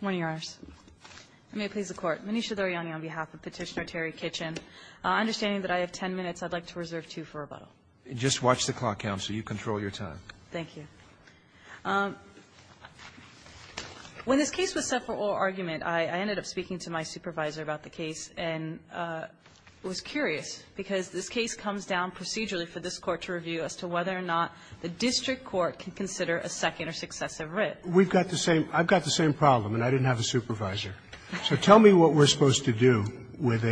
Morning, Your Honors. I may please the Court. Manisha Duryani on behalf of Petitioner Terry Kitchen, understanding that I have ten minutes, I'd like to reserve two for rebuttal. Just watch the clock, Counsel. You control your time. Thank you. When this case was set for oral argument, I ended up speaking to my supervisor about the case and was curious because this case comes down procedurally for this Court to review as to whether or not the district court can consider a second or successive writ. We've got the same problem, and I didn't have a supervisor. So tell me what we're supposed to do with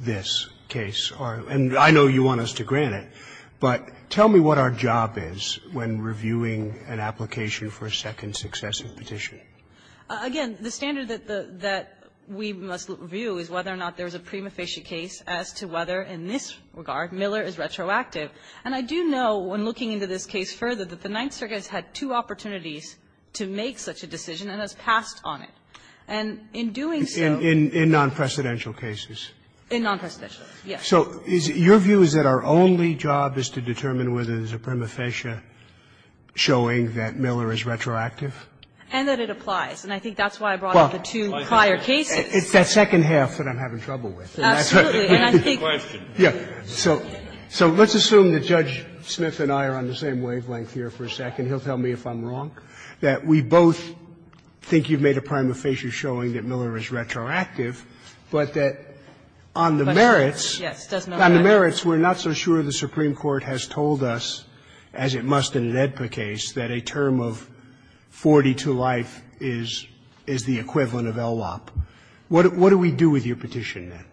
this case. And I know you want us to grant it, but tell me what our job is when reviewing an application for a second successive petition. Again, the standard that we must review is whether or not there's a prima facie case as to whether in this regard Miller is retroactive. And I do know, when looking into this case further, that the Ninth Circuit has had two opportunities to make such a decision and has passed on it. And in doing so — In nonpresidential cases? In nonpresidential, yes. So your view is that our only job is to determine whether there's a prima facie showing that Miller is retroactive? And that it applies. And I think that's why I brought up the two prior cases. It's that second half that I'm having trouble with. Absolutely. And I think — Yes. So let's assume that Judge Smith and I are on the same wavelength here for a second. He'll tell me if I'm wrong. That we both think you've made a prima facie showing that Miller is retroactive, but that on the merits — Yes, it does matter. On the merits, we're not so sure the Supreme Court has told us, as it must in an AEDPA case, that a term of 40 to life is the equivalent of LLOP. What do we do with your petition, then?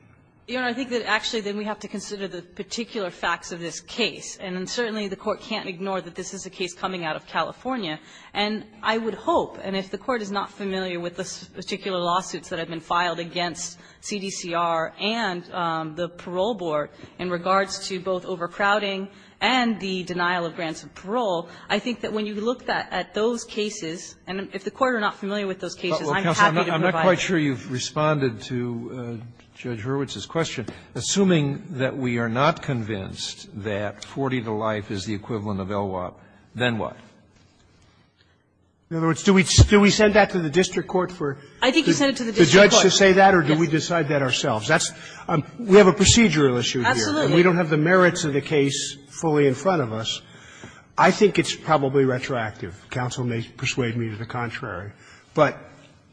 You know, I think that, actually, then we have to consider the particular facts of this case. And certainly the Court can't ignore that this is a case coming out of California. And I would hope, and if the Court is not familiar with the particular lawsuits that have been filed against CDCR and the Parole Board in regards to both overcrowding and the denial of grants of parole, I think that when you look at those cases, and if the Court are not familiar with those cases, I'm happy to provide them. Sotomayor, I'm not quite sure you've responded to Judge Hurwitz's question. Assuming that we are not convinced that 40 to life is the equivalent of LLOP, then what? In other words, do we send that to the district court for the judge to say that or do we decide that ourselves? That's — we have a procedural issue here, and we don't have the merits of the case fully in front of us. I think it's probably retroactive. Counsel may persuade me to the contrary. But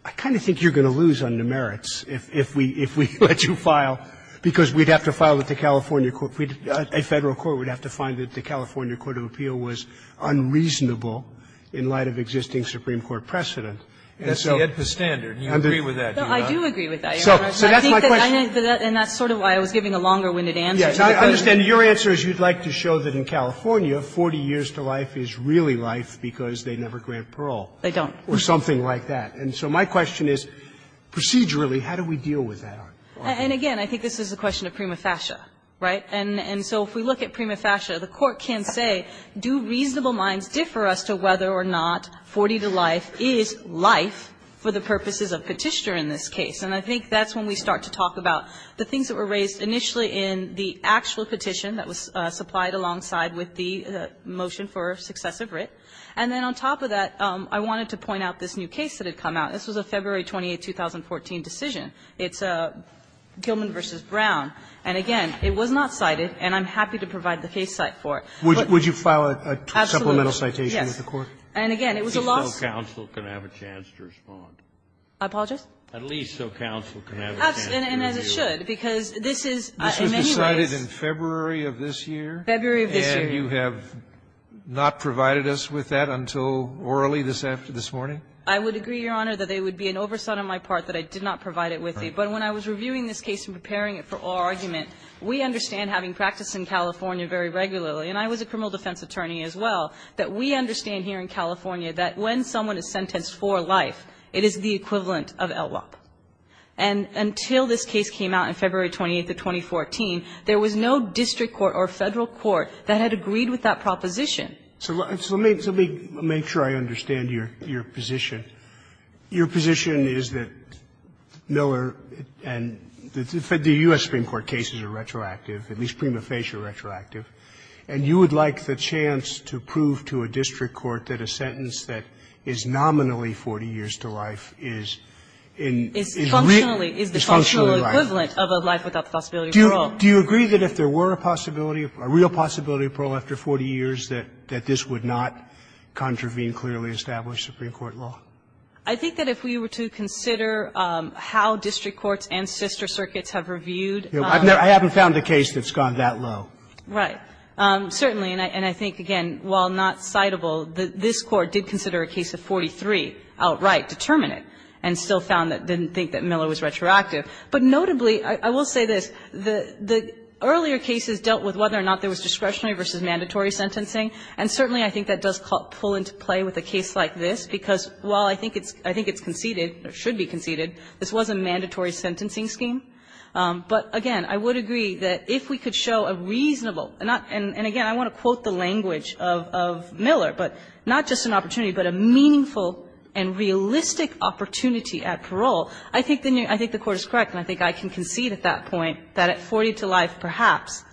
I kind of think you're going to lose on the merits if we let you file, because we'd have to file with the California court. A Federal court would have to find that the California court of appeal was unreasonable in light of existing Supreme Court precedent. And so the standard. Do you agree with that? Do you not? No, I do agree with that, Your Honor. So that's my question. And that's sort of why I was giving a longer-winded answer to the question. Yes. I understand. Your answer is you'd like to show that in California, 40 years to life is really life because they never grant parole. They don't. Or something like that. And so my question is, procedurally, how do we deal with that? And again, I think this is a question of prima facie, right? And so if we look at prima facie, the Court can say, do reasonable minds differ as to whether or not 40 to life is life for the purposes of Petitioner in this case? And I think that's when we start to talk about the things that were raised initially in the actual petition that was supplied alongside with the motion for successive writ. And then on top of that, I wanted to point out this new case that had come out. This was a February 28, 2014, decision. It's Gilman v. Brown. And again, it was not cited, and I'm happy to provide the case site for it. Would you file a supplemental citation with the Court? Yes. And again, it was a loss. At least so counsel can have a chance to respond. I apologize? At least so counsel can have a chance to review. Perhaps, and as it should, because this is, in many ways This was decided in February of this year? February of this year. And you have not provided us with that until orally this morning? I would agree, Your Honor, that it would be an oversight on my part that I did not provide it with you. But when I was reviewing this case and preparing it for oral argument, we understand having practiced in California very regularly, and I was a criminal defense attorney as well, that we understand here in California that when someone is sentenced for life, it is the equivalent of LWOP. And until this case came out in February 28th of 2014, there was no district court or Federal court that had agreed with that proposition. So let me make sure I understand your position. Your position is that Miller and the U.S. Supreme Court cases are retroactive, at least prima facie retroactive, and you would like the chance to prove to a district court that a sentence that is nominally 40 years to life is in real life? Is functionally equivalent of a life without the possibility of parole. Do you agree that if there were a possibility, a real possibility of parole after 40 years, that this would not contravene clearly established Supreme Court law? I think that if we were to consider how district courts and sister circuits have reviewed. I haven't found a case that's gone that low. Right. Certainly, and I think, again, while not citable, this Court did consider a case of 43 outright determinate and still found that it didn't think that Miller was retroactive. But notably, I will say this, the earlier cases dealt with whether or not there was discretionary versus mandatory sentencing, and certainly I think that does pull into play with a case like this, because while I think it's conceded, or should be conceded, this was a mandatory sentencing scheme. But, again, I would agree that if we could show a reasonable, and again, I want to quote the language of Miller, but not just an opportunity, but a meaningful and realistic opportunity at parole, I think the Court is correct and I think I can concede at that point that at 40 to life, perhaps,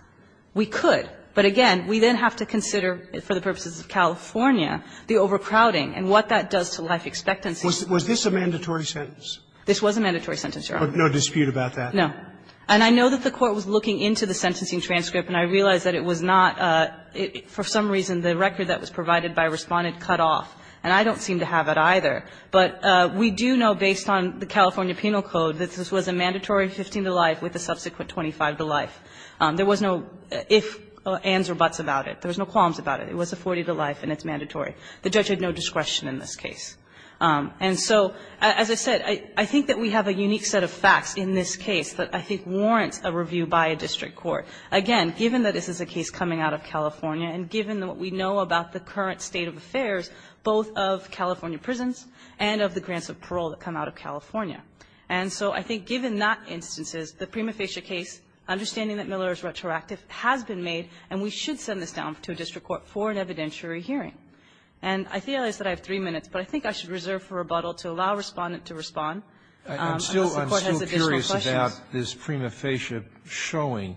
we could. But, again, we then have to consider, for the purposes of California, the overcrowding and what that does to life expectancy. Was this a mandatory sentence? This was a mandatory sentence, Your Honor. Roberts, no dispute about that. No. And I know that the Court was looking into the sentencing transcript and I realized that it was not, for some reason, the record that was provided by Respondent cut off. And I don't seem to have it either. But we do know, based on the California penal code, that this was a mandatory 15 to life with a subsequent 25 to life. There was no if, ands or buts about it. There was no qualms about it. It was a 40 to life and it's mandatory. The judge had no discretion in this case. And so, as I said, I think that we have a unique set of facts in this case that I think warrants a review by a district court. Again, given that this is a case coming out of California and given what we know about the current state of affairs, both of California prisons and of the grants of parole that come out of California. And so I think given that instances, the prima facie case, understanding that Miller is retroactive, has been made and we should send this down to a district court for an evidentiary hearing. And I feel as though I have three minutes, but I think I should reserve for rebuttal to allow Respondent to respond. I'm still curious about this prima facie showing.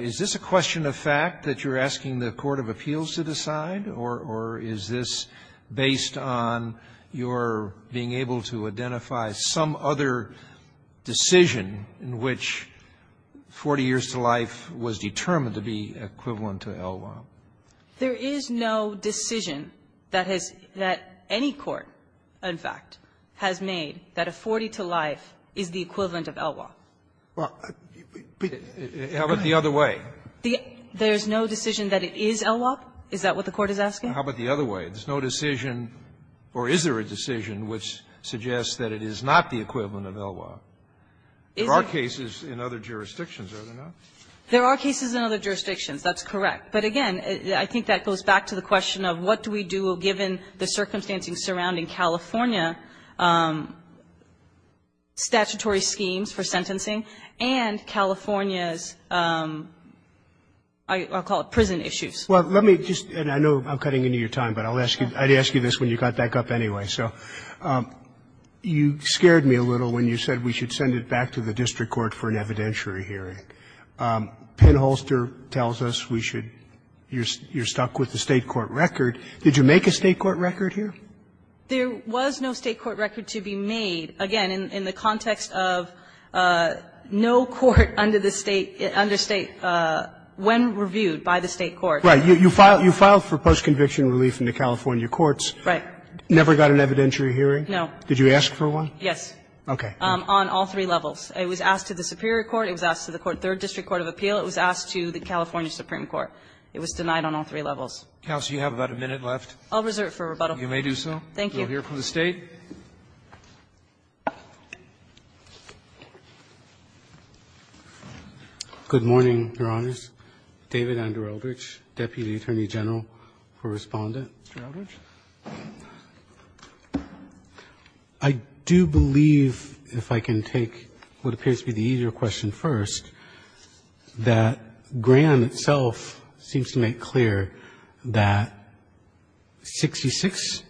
Is this a question of fact, that you're asking the court of appeals to decide? Or is this based on your being able to identify some other decision in which 40 years to life was determined to be equivalent to ELWA? There is no decision that has any court, in fact, has made that a 40 to life is the equivalent of ELWA. Well, but how about the other way? There's no decision that it is ELWA? Is that what the court is asking? How about the other way? There's no decision, or is there a decision, which suggests that it is not the equivalent of ELWA? There are cases in other jurisdictions, are there not? There are cases in other jurisdictions, that's correct. But again, I think that goes back to the question of what do we do, given the circumstances surrounding California statutory schemes for sentencing, and California's, I'll call it prison issues. Well, let me just, and I know I'm cutting into your time, but I'll ask you, I'd ask you this when you got back up anyway. So you scared me a little when you said we should send it back to the district court for an evidentiary hearing. Penholster tells us we should, you're stuck with the State court record. Did you make a State court record here? There was no State court record to be made, again, in the context of no court under the State, under State, when reviewed by the State court. Right. You filed for post-conviction relief in the California courts. Right. Never got an evidentiary hearing? No. Did you ask for one? Yes. Okay. On all three levels. It was asked to the Superior Court, it was asked to the third district court of appeal, it was asked to the California Supreme Court. It was denied on all three levels. Counsel, you have about a minute left. I'll reserve it for rebuttal. You may do so. Thank you. We'll hear from the State. David Andrew Eldridge, Deputy Attorney General for Respondent. Mr. Eldridge. I do believe, if I can take what appears to be the easier question first, that Graham itself seems to make clear that 66,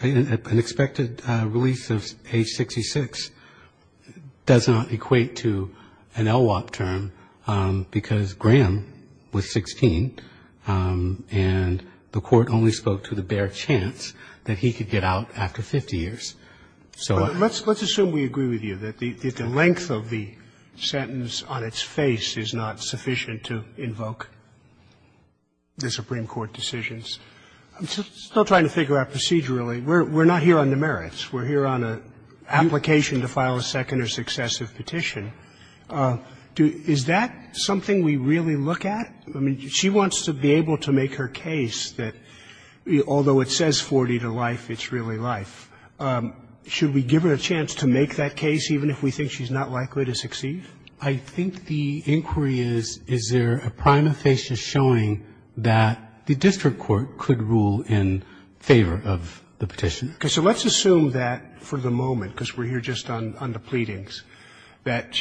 an expected release of age 66, does not equate to an LWOP term, because Graham was 16, and the court only spoke to the barracks were the only places that he could get out, and there was no chance that he could get out after 50 years. So let's assume we agree with you that the length of the sentence on its face is not sufficient to invoke the Supreme Court decisions. I'm still trying to figure out procedurally. We're not here on the merits. We're here on an application to file a second or successive petition. Is that something we really look at? I mean, she wants to be able to make her case that, although it says 40 to life, it's really life. Should we give her a chance to make that case, even if we think she's not likely to succeed? I think the inquiry is, is there a prima facie showing that the district court could rule in favor of the petition? Okay. So let's assume that for the moment, because we're here just on the pleadings, that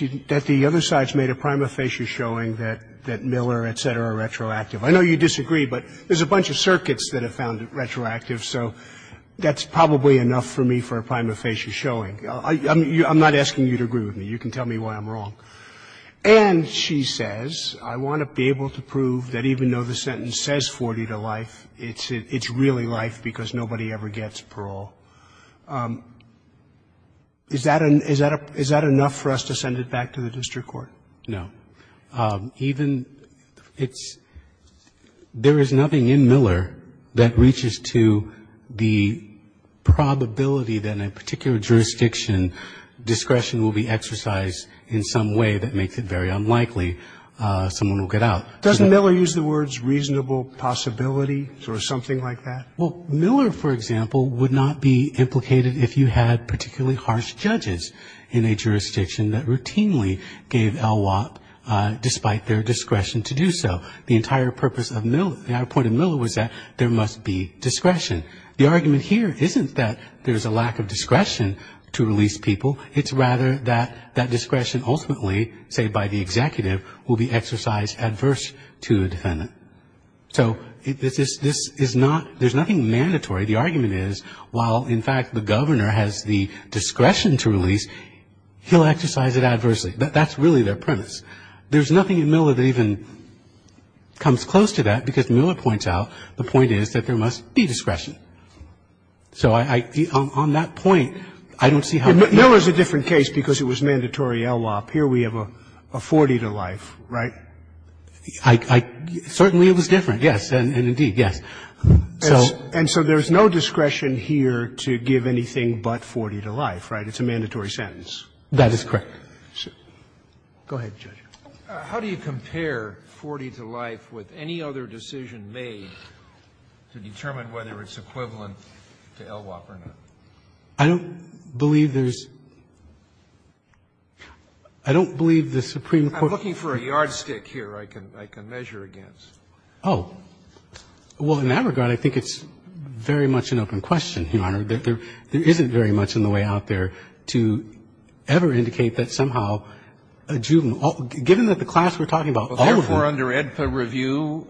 the other side's made a prima facie showing that Miller, et cetera, are retroactive. I know you disagree, but there's a bunch of circuits that have found it retroactive, so that's probably enough for me for a prima facie showing. I'm not asking you to agree with me. You can tell me why I'm wrong. And she says, I want to be able to prove that even though the sentence says 40 to life, it's really life because nobody ever gets parole. Is that enough for us to send it back to the district court? No. Even it's – there is nothing in Miller that reaches to the probability that in a particular jurisdiction, discretion will be exercised in some way that makes it very unlikely someone will get out. Does Miller use the words reasonable possibility or something like that? Well, Miller, for example, would not be implicated if you had particularly harsh judges in a jurisdiction that routinely gave LWOP despite their discretion to do so. The entire purpose of Miller – the entire point of Miller was that there must be discretion. The argument here isn't that there's a lack of discretion to release people. It's rather that that discretion ultimately, say, by the executive, will be exercised adverse to the defendant. So this is not – there's nothing mandatory. The argument is while, in fact, the governor has the discretion to release, he'll exercise it adversely. That's really their premise. There's nothing in Miller that even comes close to that because Miller points out the point is that there must be discretion. So I – on that point, I don't see how – But Miller's a different case because it was mandatory LWOP. Here we have a 40 to life, right? I – certainly it was different, yes, and indeed, yes. So – And so there's no discretion here to give anything but 40 to life, right? It's a mandatory sentence. That is correct. Go ahead, Judge. How do you compare 40 to life with any other decision made to determine whether it's equivalent to LWOP or not? I don't believe there's – I don't believe the Supreme Court – I'm looking for a yardstick here I can – I can measure against. Oh. Well, in that regard, I think it's very much an open question, Your Honor, that there isn't very much in the way out there to ever indicate that somehow a juvenile – given that the class we're talking about, all of them – Well, therefore, under AEDPA review,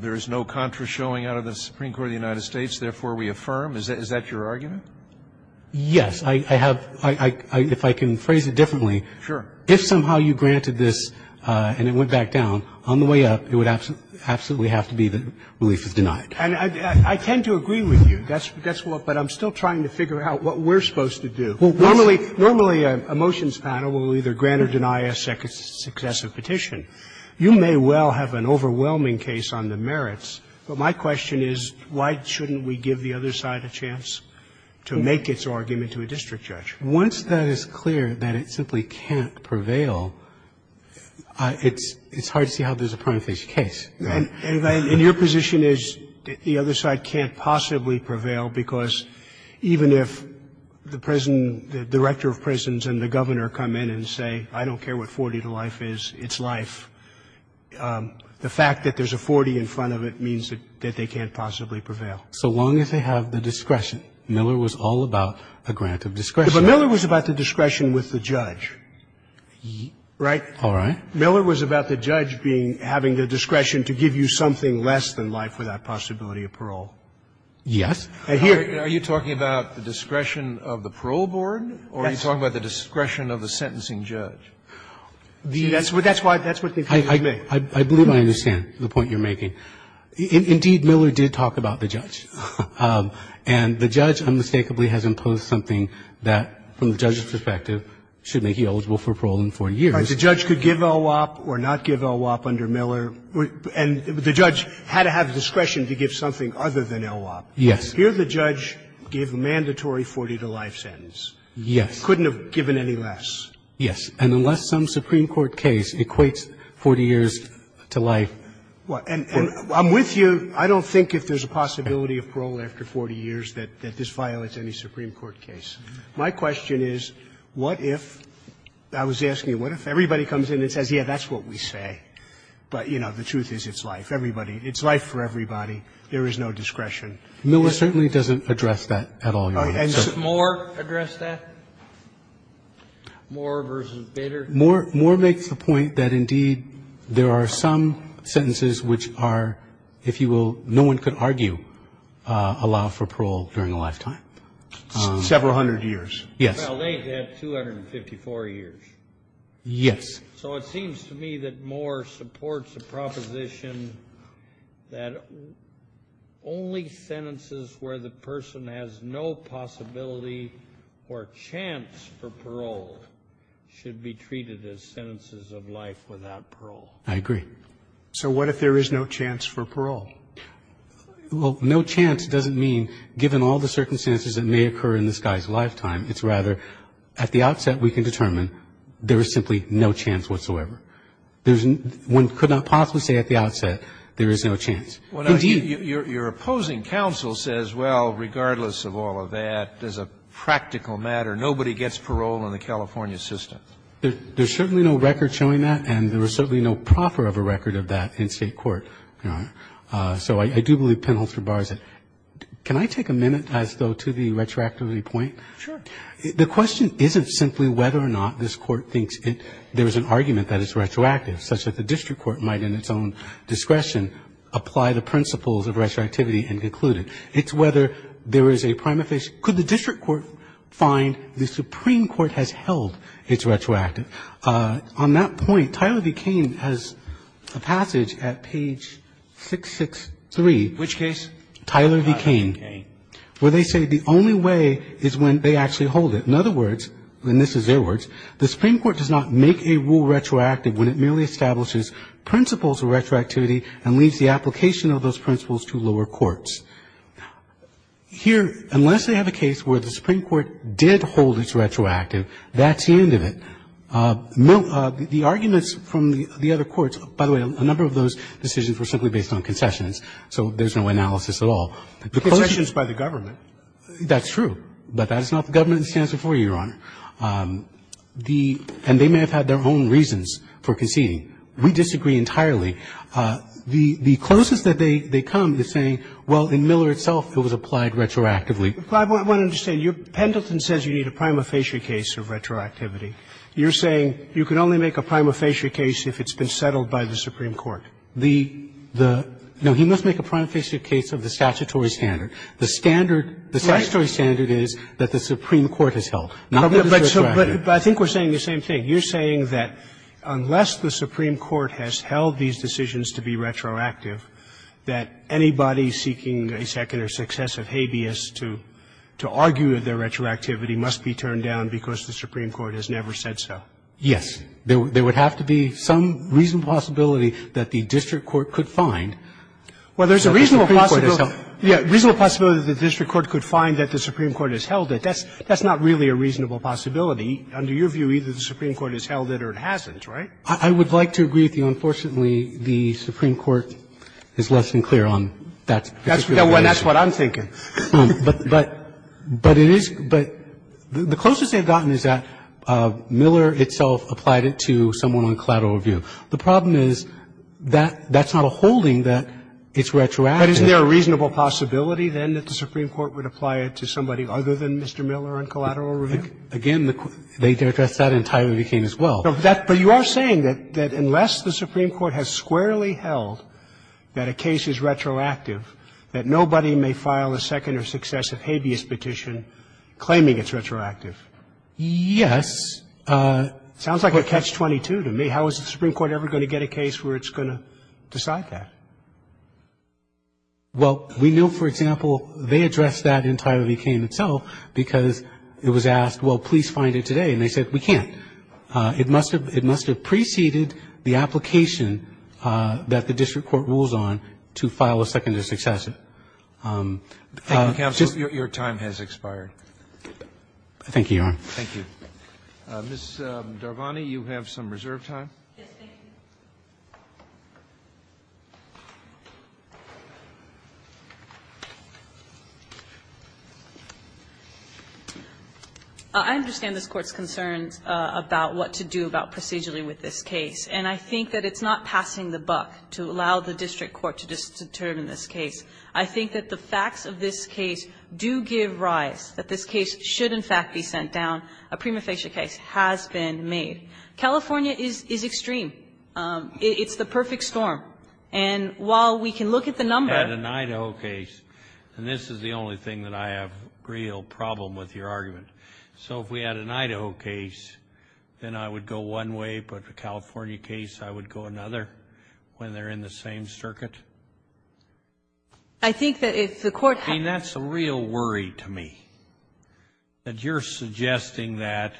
there is no contra showing out of the Supreme Court of the United States. Therefore, we affirm. Is that your argument? Yes. I have – if I can phrase it differently, if somehow you granted this and it went back down, on the way up, it would absolutely have to be that relief is denied. And I tend to agree with you. That's what – but I'm still trying to figure out what we're supposed to do. Normally, a motions panel will either grant or deny a successive petition. You may well have an overwhelming case on the merits, but my question is why shouldn't we give the other side a chance to make its argument to a district judge? Once that is clear that it simply can't prevail, it's hard to see how there's a prima facie case. And your position is that the other side can't possibly prevail because even if the President – the Director of Prisons and the Governor come in and say, I don't care what 40 to life is, it's life, the fact that there's a 40 in front of it means that they can't possibly prevail. So long as they have the discretion. Miller was all about a grant of discretion. But Miller was about the discretion with the judge, right? All right. Miller was about the judge being – having the discretion to give you something less than life without possibility of parole. Yes. And here – Are you talking about the discretion of the parole board or are you talking about the discretion of the sentencing judge? That's why – that's what the case is made. I believe I understand the point you're making. Indeed, Miller did talk about the judge. And the judge unmistakably has imposed something that, from the judge's perspective, should make you eligible for parole in 40 years. All right. The judge could give LWOP or not give LWOP under Miller. And the judge had to have discretion to give something other than LWOP. Yes. Here the judge gave a mandatory 40 to life sentence. Yes. Couldn't have given any less. Yes. And unless some Supreme Court case equates 40 years to life, 40 to life. And I'm with you. I don't think if there's a possibility of parole after 40 years that this violates any Supreme Court case. My question is, what if – I was asking you, what if everybody comes in and says, yes, that's what we say, but, you know, the truth is it's life. Everybody – it's life for everybody. There is no discretion. Miller certainly doesn't address that at all, Your Honor. And Moore addressed that? Moore v. Bader. Moore makes the point that, indeed, there are some sentences which are, if you will, no one could argue allow for parole during a lifetime. Several hundred years. Yes. Well, they have 254 years. Yes. So it seems to me that Moore supports the proposition that only sentences where the of life without parole. I agree. So what if there is no chance for parole? Well, no chance doesn't mean given all the circumstances that may occur in this guy's lifetime. It's rather, at the outset, we can determine there is simply no chance whatsoever. There's – one could not possibly say at the outset there is no chance. Indeed – Your opposing counsel says, well, regardless of all of that, as a practical matter, nobody gets parole in the California system. There's certainly no record showing that, and there is certainly no proffer of a record of that in State court. So I do believe Penholzer bars it. Can I take a minute, as though, to the retroactivity point? Sure. The question isn't simply whether or not this Court thinks there is an argument that it's retroactive, such that the district court might, in its own discretion, apply the principles of retroactivity and conclude it. It's whether there is a prima facie – could the district court find the Supreme Court retroactive? On that point, Tyler v. Cain has a passage at page 663. Which case? Tyler v. Cain. Tyler v. Cain. Where they say the only way is when they actually hold it. In other words – and this is their words – the Supreme Court does not make a rule retroactive when it merely establishes principles of retroactivity and leaves the application of those principles to lower courts. Here, unless they have a case where the Supreme Court did hold it retroactive, that's the end of it. The arguments from the other courts – by the way, a number of those decisions were simply based on concessions, so there's no analysis at all. Concessions by the government. That's true, but that is not the government's stance before you, Your Honor. The – and they may have had their own reasons for conceding. We disagree entirely. The closest that they come is saying, well, in Miller itself, it was applied retroactively. But I want to understand, Pendleton says you need a prima facie case of retroactivity. You're saying you can only make a prima facie case if it's been settled by the Supreme Court. The – the – No, he must make a prima facie case of the statutory standard. The standard – the statutory standard is that the Supreme Court has held, not the district. But I think we're saying the same thing. You're saying that unless the Supreme Court has held these decisions to be retroactive, that anybody seeking a second or successive habeas to argue their retroactivity must be turned down because the Supreme Court has never said so. Yes. There would have to be some reasonable possibility that the district court could find. Well, there's a reasonable possibility. Yeah, reasonable possibility that the district court could find that the Supreme Court has held it. That's – that's not really a reasonable possibility. Under your view, either the Supreme Court has held it or it hasn't, right? I would like to agree with you. Unfortunately, the Supreme Court is less than clear on that. That's what I'm thinking. But it is – but the closest they've gotten is that Miller itself applied it to someone on collateral review. The problem is that that's not a holding, that it's retroactive. But isn't there a reasonable possibility, then, that the Supreme Court would apply it to somebody other than Mr. Miller on collateral review? Again, they addressed that in Tyree v. Cain as well. But you are saying that unless the Supreme Court has squarely held that a case is retroactive, that nobody may file a second or successive habeas petition claiming it's retroactive? Yes. Sounds like a catch-22 to me. How is the Supreme Court ever going to get a case where it's going to decide that? Well, we know, for example, they addressed that in Tyree v. Cain itself because it was asked, well, please find it today. And they said, we can't. It must have preceded the application that the district court rules on to file a second or successive. Thank you, counsel. Your time has expired. Thank you, Your Honor. Thank you. Ms. Darvani, you have some reserve time. Yes, thank you. I understand this Court's concerns about what to do about procedurally with this case, and I think that it's not passing the buck to allow the district court to determine this case. I think that the facts of this case do give rise, that this case should, in fact, be sent down. A prima facie case has been made. California is extreme. It's the perfect storm. And while we can look at the number of cases, and this is the only thing that I have real problem with your argument. So if we had an Idaho case, then I would go one way, but a California case, I would go another when they're in the same circuit. I think that if the Court had to do that. I mean, that's a real worry to me, that you're suggesting that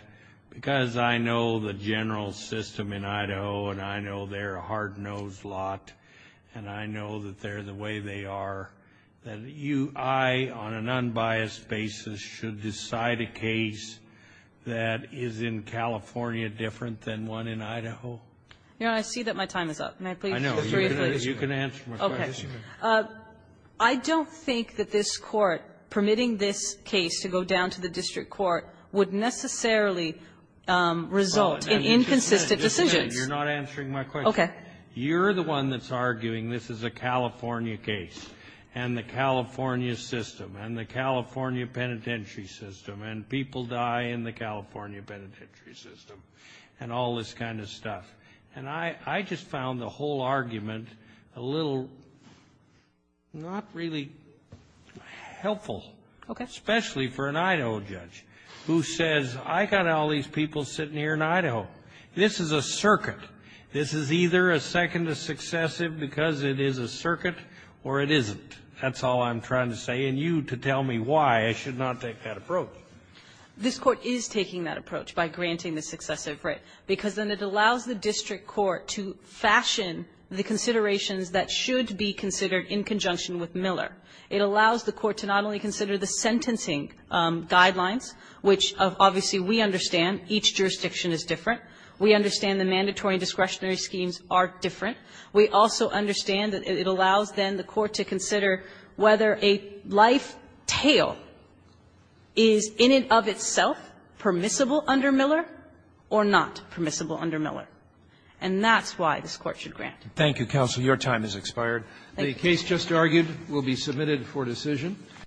because I know the general system in Idaho, and I know they're a hard-nosed lot, and I know that they're the way they are, that you, I, on an unbiased basis, should decide a case that is in California different than one in Idaho? Your Honor, I see that my time is up. Can I please refer you to the district? You can answer my question. Okay. I don't think that this Court, permitting this case to go down to the district court, would necessarily result in inconsistent decisions. You're not answering my question. Okay. You're the one that's arguing this is a California case, and the California system, and the California penitentiary system, and people die in the California penitentiary system, and all this kind of stuff. And I just found the whole argument a little not really helpful. Okay. Especially for an Idaho judge who says, I got all these people sitting here in Idaho. This is a circuit. This is either a second, a successive, because it is a circuit, or it isn't. That's all I'm trying to say. And you to tell me why I should not take that approach. This Court is taking that approach by granting the successive writ, because then it allows the district court to fashion the considerations that should be considered in conjunction with Miller. It allows the court to not only consider the sentencing guidelines, which, obviously, we understand each jurisdiction is different. We understand the mandatory and discretionary schemes are different. We also understand that it allows, then, the court to consider whether a lifetail is in and of itself permissible under Miller or not permissible under Miller. And that's why this Court should grant. Roberts. Thank you, counsel. Your time has expired. The case just argued will be submitted for decision.